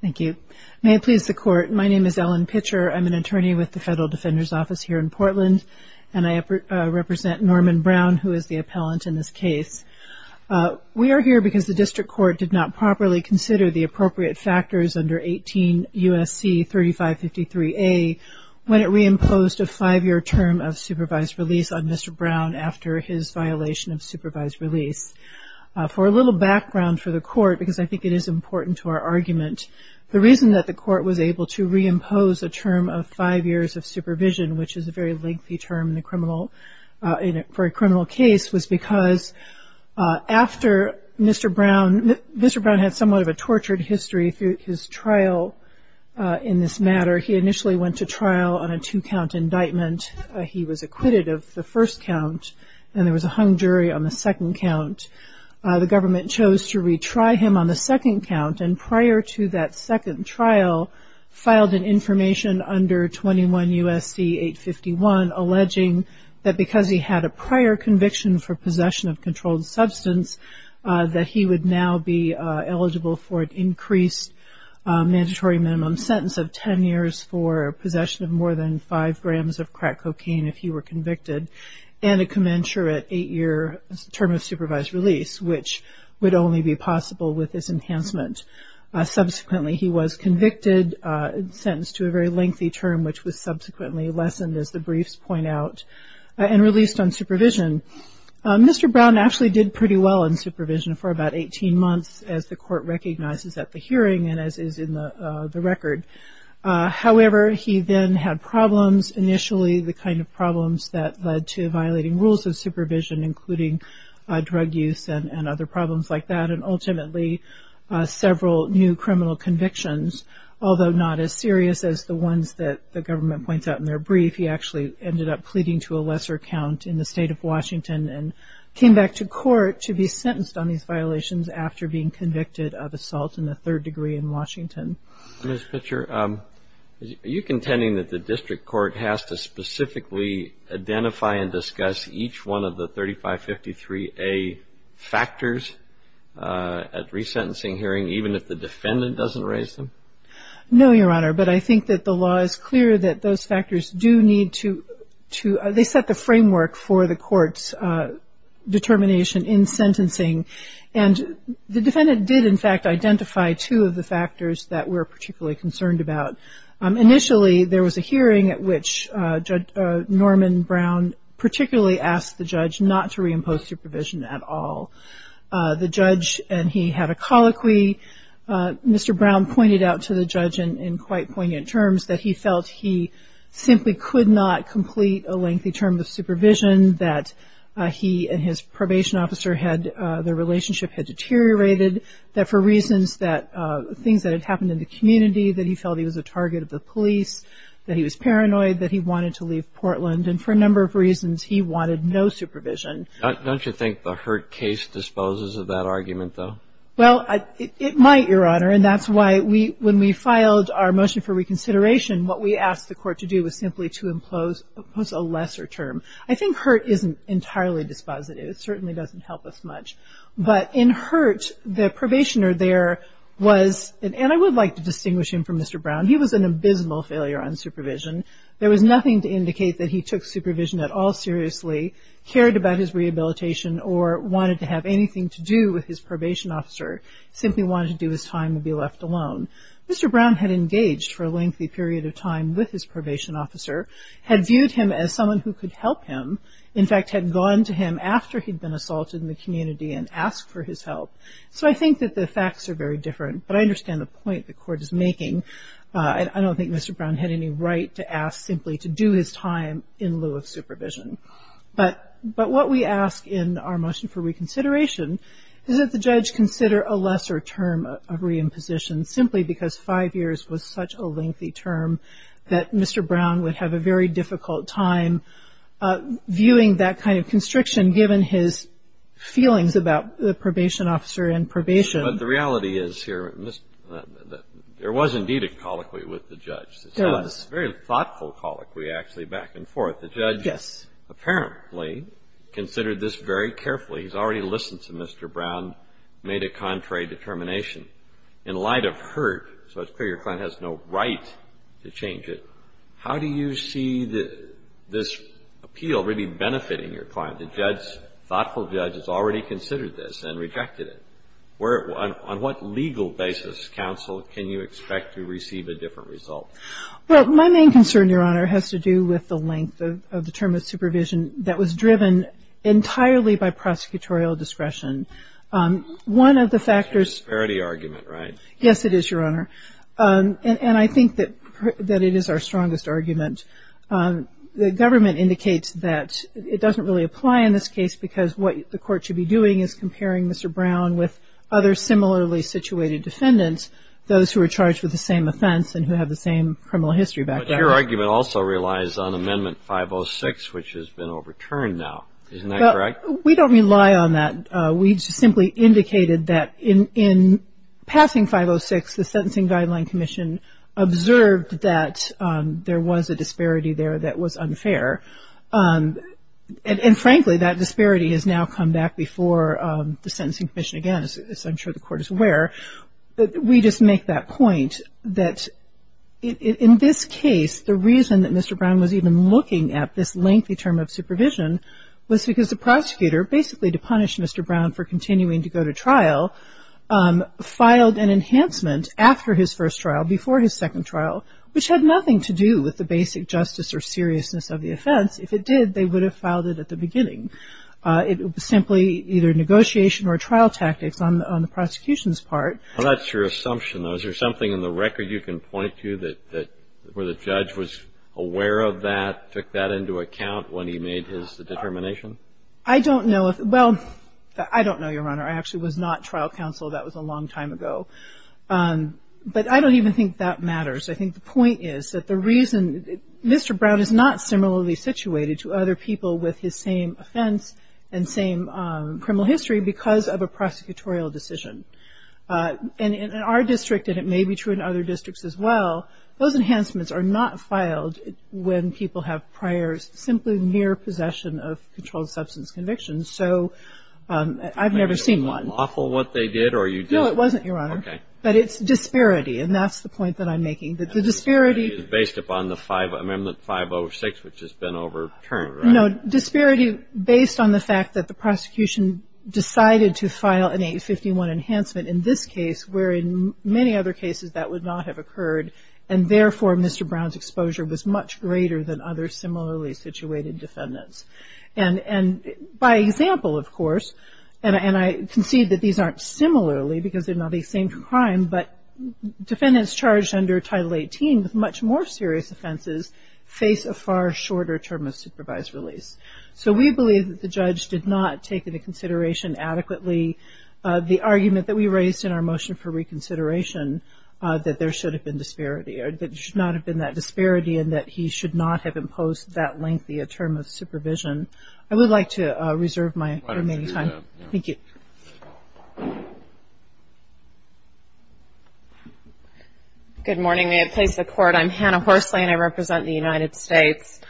Thank you. May it please the Court, my name is Ellen Pitcher, I'm an attorney with the Federal Defender's Office here in Portland, and I represent Norman Brown, who is the appellant in this case. We are here because the District Court did not properly consider the appropriate factors under 18 U.S.C. 3553A when it reimposed a five-year term of supervised release on Mr. Brown after his violation of supervised release. For a little background for the Court, because I think it is important to our argument, the reason that the Court was able to reimpose a term of five years of supervision, which is a very lengthy term for a criminal case, was because after Mr. Brown had somewhat of a tortured history through his trial in this matter, he initially went to trial on a two-count indictment. He was acquitted of the first count, and there was a hung jury on the second count. The government chose to retry him on the second count, and prior to that second trial, filed an information under 21 U.S.C. 851 alleging that because he had a prior conviction for possession of controlled substance, that he would now be eligible for an increased mandatory minimum sentence of ten years for possession of more than five grams of crack cocaine if he were convicted, and a commensurate eight-year term of supervised release, which would only be possible with his enhancement. Subsequently, he was convicted, sentenced to a very lengthy term, which was subsequently lessened, as the briefs point out, and released on supervision. Mr. Brown actually did pretty well in supervision for about 18 months, as the Court recognizes at the hearing and as is in the record. However, he then had problems initially, the kind of problems that led to violating rules of supervision, including drug use and other problems like that, and ultimately several new criminal convictions. Although not as serious as the ones that the government points out in their brief, he actually ended up pleading to a lesser count in the state of Washington and came back to court to be sentenced on these violations after being convicted of assault in the third degree in Washington. Mr. Pitcher, are you contending that the district court has to specifically identify and discuss each one of the 3553A factors at resentencing hearing, even if the defendant doesn't raise them? No, Your Honor. But I think that the law is clear that those factors do need to – they set the framework for the court's determination in sentencing. And the defendant did, in fact, identify two of the factors that we're particularly concerned about. Initially, there was a hearing at which Judge Norman Brown particularly asked the judge not to reimpose supervision at all. The judge and he had a colloquy. Mr. Brown pointed out to the judge in quite poignant terms that he felt he simply could not complete a lengthy term of supervision, that he and his probation officer had – their relationship had deteriorated, that for reasons that – things that had happened in the community, that he felt he was a target of the police, that he was paranoid, that he wanted to leave Portland. And for a number of reasons, he wanted no supervision. Don't you think the Hurd case disposes of that argument, though? Well, it might, Your Honor. And that's why when we filed our motion for reconsideration, what we asked the court to do was simply to impose a lesser term. I think Hurd isn't entirely dispositive. It certainly doesn't help us much. But in Hurd, the probationer there was – and I would like to distinguish him from Mr. Brown. He was an abysmal failure on supervision. There was nothing to indicate that he took supervision at all seriously, cared about his rehabilitation, or wanted to have anything to do with his probation officer, simply wanted to do his time and be left alone. Mr. Brown had engaged for a lengthy period of time with his probation officer, had viewed him as someone who could help him, in fact had gone to him after he'd been assaulted in the community and asked for his help. So I think that the facts are very different, but I understand the point the court is making. I don't think Mr. Brown had any right to ask simply to do his time in lieu of supervision. But what we ask in our motion for reconsideration is that the judge consider a lesser term of reimposition simply because five years was such a lengthy term that Mr. Brown would have a very difficult time viewing that kind of constriction given his feelings about the probation officer and probation. But the reality is here that there was indeed a colloquy with the judge. There was. It was a very thoughtful colloquy actually back and forth. Yes. The judge apparently considered this very carefully. He's already listened to Mr. Brown, made a contrary determination. In light of hurt, so it's clear your client has no right to change it, how do you see this appeal really benefiting your client? The judge, thoughtful judge, has already considered this and rejected it. On what legal basis, counsel, can you expect to receive a different result? Well, my main concern, Your Honor, has to do with the length of the term of supervision that was driven entirely by prosecutorial discretion. One of the factors- It's a disparity argument, right? Yes, it is, Your Honor. And I think that it is our strongest argument. The government indicates that it doesn't really apply in this case because what the court should be doing is comparing Mr. Brown with other similarly situated defendants, those who are charged with the same offense and who have the same criminal history back there. But your argument also relies on Amendment 506, which has been overturned now. Isn't that correct? We don't rely on that. We simply indicated that in passing 506, the Sentencing Guideline Commission observed that there was a disparity there that was unfair. And frankly, that disparity has now come back before the Sentencing Commission again, as I'm sure the Court is aware. We just make that point that in this case, the reason that Mr. Brown was even looking at this lengthy term of supervision was because the prosecutor basically, to punish Mr. Brown for continuing to go to trial, filed an enhancement after his first trial, before his second trial, which had nothing to do with the basic justice or seriousness of the offense. If it did, they would have filed it at the beginning. It was simply either negotiation or trial tactics on the prosecution's part. Well, that's your assumption. Is there something in the record you can point to where the judge was aware of that, took that into account when he made his determination? I don't know. Well, I don't know, Your Honor. I actually was not trial counsel. That was a long time ago. But I don't even think that matters. I think the point is that the reason Mr. Brown is not similarly situated to other people with his same offense and same criminal history because of a prosecutorial decision. And in our district, and it may be true in other districts as well, those enhancements are not filed when people have prior, simply mere possession of controlled substance convictions. So I've never seen one. Maybe it was awful what they did or you didn't. No, it wasn't, Your Honor. Okay. But it's disparity, and that's the point that I'm making. The disparity is based upon the Amendment 506, which has been overturned, right? No. Disparity based on the fact that the prosecution decided to file an 851 enhancement in this case where in many other cases that would not have occurred, and therefore Mr. Brown's exposure was much greater than other similarly situated defendants. And by example, of course, and I concede that these aren't similarly because they're not the same crime, but defendants charged under Title 18 with much more serious offenses face a far shorter term of supervised release. So we believe that the judge did not take into consideration adequately the argument that we raised in our motion for reconsideration, that there should have been disparity, or there should not have been that disparity, and that he should not have imposed that lengthy a term of supervision. I would like to reserve my remaining time. Thank you. Good morning. May it please the Court, I'm Hannah Horsley, and I represent the United States.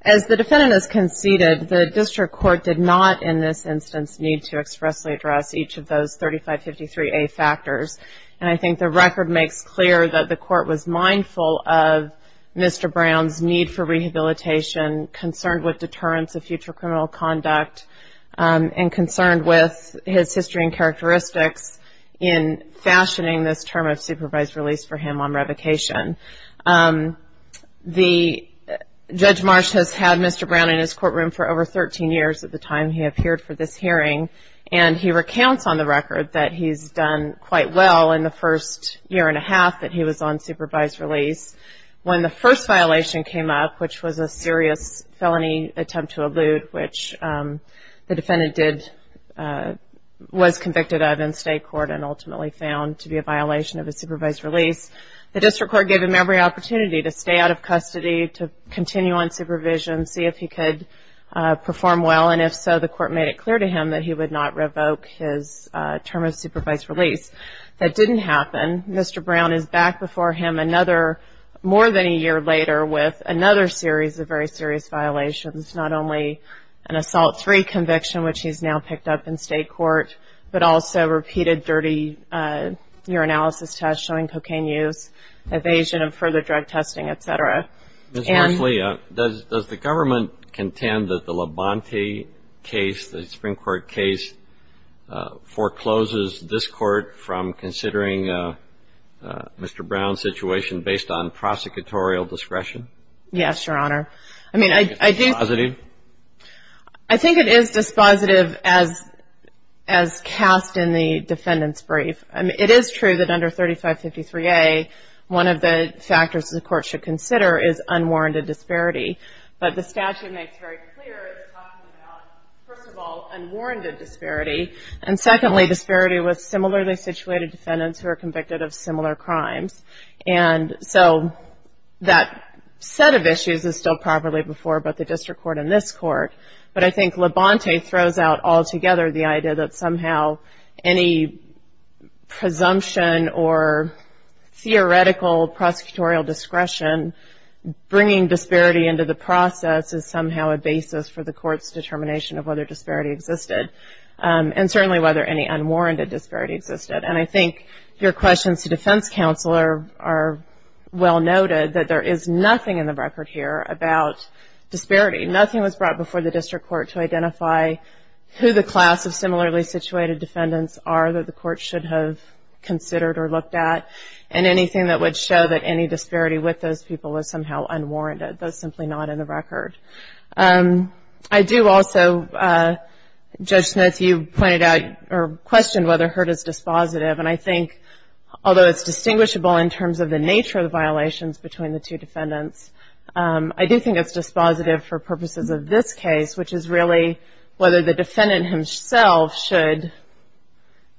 As the defendant has conceded, the district court did not in this instance need to expressly address each of those 3553A factors, and I think the record makes clear that the court was mindful of Mr. Brown's need for rehabilitation, concerned with deterrence of future criminal conduct, and concerned with his history and characteristics in fashioning this term of supervised release for him on revocation. Judge Marsh has had Mr. Brown in his courtroom for over 13 years at the time he appeared for this hearing, and he recounts on the record that he's done quite well in the first year and a half that he was on supervised release. When the first violation came up, which was a serious felony attempt to elude, which the defendant was convicted of in state court and ultimately found to be a violation of his supervised release, the district court gave him every opportunity to stay out of custody, to continue on supervision, see if he could perform well, and if so, the court made it clear to him that he would not revoke his term of supervised release. That didn't happen. Mr. Brown is back before him more than a year later with another series of very serious violations, not only an assault three conviction, which he's now picked up in state court, but also repeated dirty urinalysis tests showing cocaine use, evasion of further drug testing, et cetera. Ms. Marsh, Leah, does the government contend that the Labonte case, the Supreme Court case, forecloses this court from considering Mr. Brown's situation based on prosecutorial discretion? Yes, Your Honor. Is it dispositive? I think it is dispositive as cast in the defendant's brief. It is true that under 3553A, one of the factors the court should consider is unwarranted disparity, but the statute makes very clear it's talking about, first of all, unwarranted disparity, and secondly, disparity with similarly situated defendants who are convicted of similar crimes. So that set of issues is still properly before both the district court and this court, but I think Labonte throws out altogether the idea that somehow any presumption or theoretical prosecutorial discretion bringing disparity into the process is somehow a basis for the court's determination of whether disparity existed and certainly whether any unwarranted disparity existed. And I think your questions to defense counsel are well noted that there is nothing in the record here about disparity. Nothing was brought before the district court to identify who the class of similarly situated defendants are that the court should have considered or looked at, and anything that would show that any disparity with those people is somehow unwarranted. That's simply not in the record. I do also, Judge Smith, you pointed out or questioned whether Hurt is dispositive, and I think although it's distinguishable in terms of the nature of the violations between the two defendants, I do think it's dispositive for purposes of this case, which is really whether the defendant himself should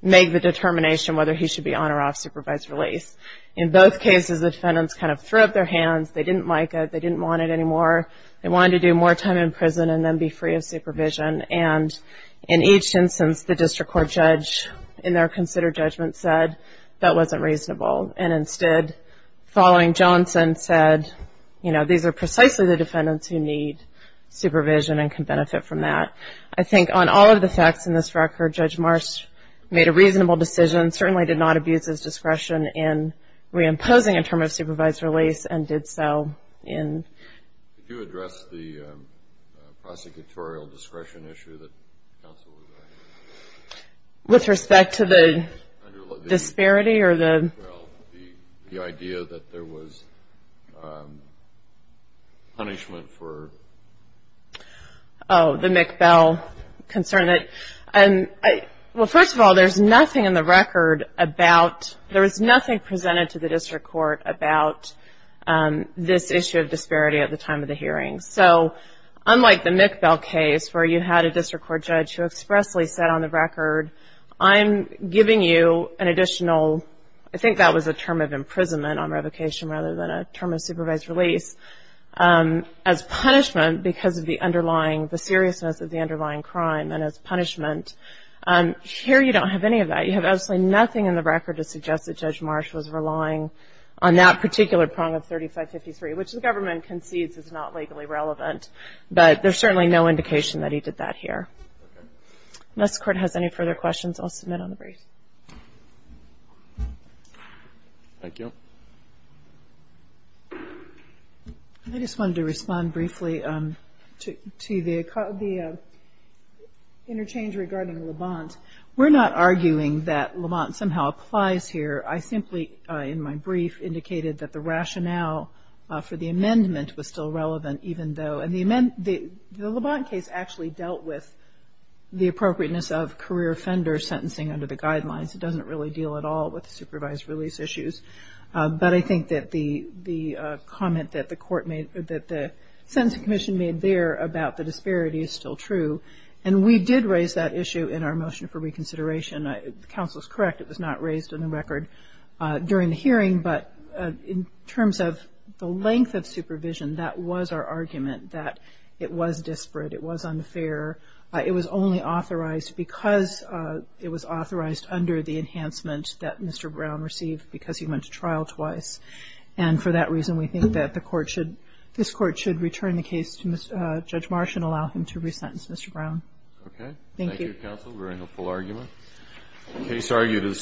make the determination whether he should be on or off supervised release. In both cases, the defendants kind of threw up their hands. They didn't like it. They didn't want it anymore. They wanted to do more time in prison and then be free of supervision. And in each instance, the district court judge in their considered judgment said that wasn't reasonable, and instead following Johnson said, you know, these are precisely the defendants who need supervision and can benefit from that. I think on all of the facts in this record, Judge Marsh made a reasonable decision, certainly did not abuse his discretion in reimposing a term of supervised release and did so in. Did you address the prosecutorial discretion issue that counsel was asking? With respect to the disparity or the. Well, the idea that there was punishment for. Oh, the McBell concern. Well, first of all, there's nothing in the record about, there is nothing presented to the district court about this issue of disparity at the time of the hearing. So unlike the McBell case where you had a district court judge who expressly said on the record, I'm giving you an additional, I think that was a term of imprisonment on revocation rather than a term of supervised release, as punishment because of the underlying, the seriousness of the underlying crime and as punishment. Here you don't have any of that. You have absolutely nothing in the record to suggest that Judge Marsh was relying on that particular prong of 3553, which the government concedes is not legally relevant. But there's certainly no indication that he did that here. Unless the court has any further questions, I'll submit on the brief. Thank you. I just wanted to respond briefly to the interchange regarding Levant. We're not arguing that Levant somehow applies here. I simply in my brief indicated that the rationale for the amendment was still relevant even though, and the Levant case actually dealt with the appropriateness of career offender sentencing under the guidelines. It doesn't really deal at all with the supervised release issues. But I think that the comment that the court made, that the sentencing commission made there about the disparity is still true. And we did raise that issue in our motion for reconsideration. The counsel is correct. It was not raised in the record during the hearing. But in terms of the length of supervision, that was our argument, that it was disparate. It was unfair. It was only authorized because it was authorized under the enhancement that Mr. Brown received because he went to trial twice. And for that reason, we think that the court should, this court should return the case to Judge Marsh and allow him to resentence Mr. Brown. Okay. Thank you. Thank you, counsel. Very helpful argument. Case argued as submitted.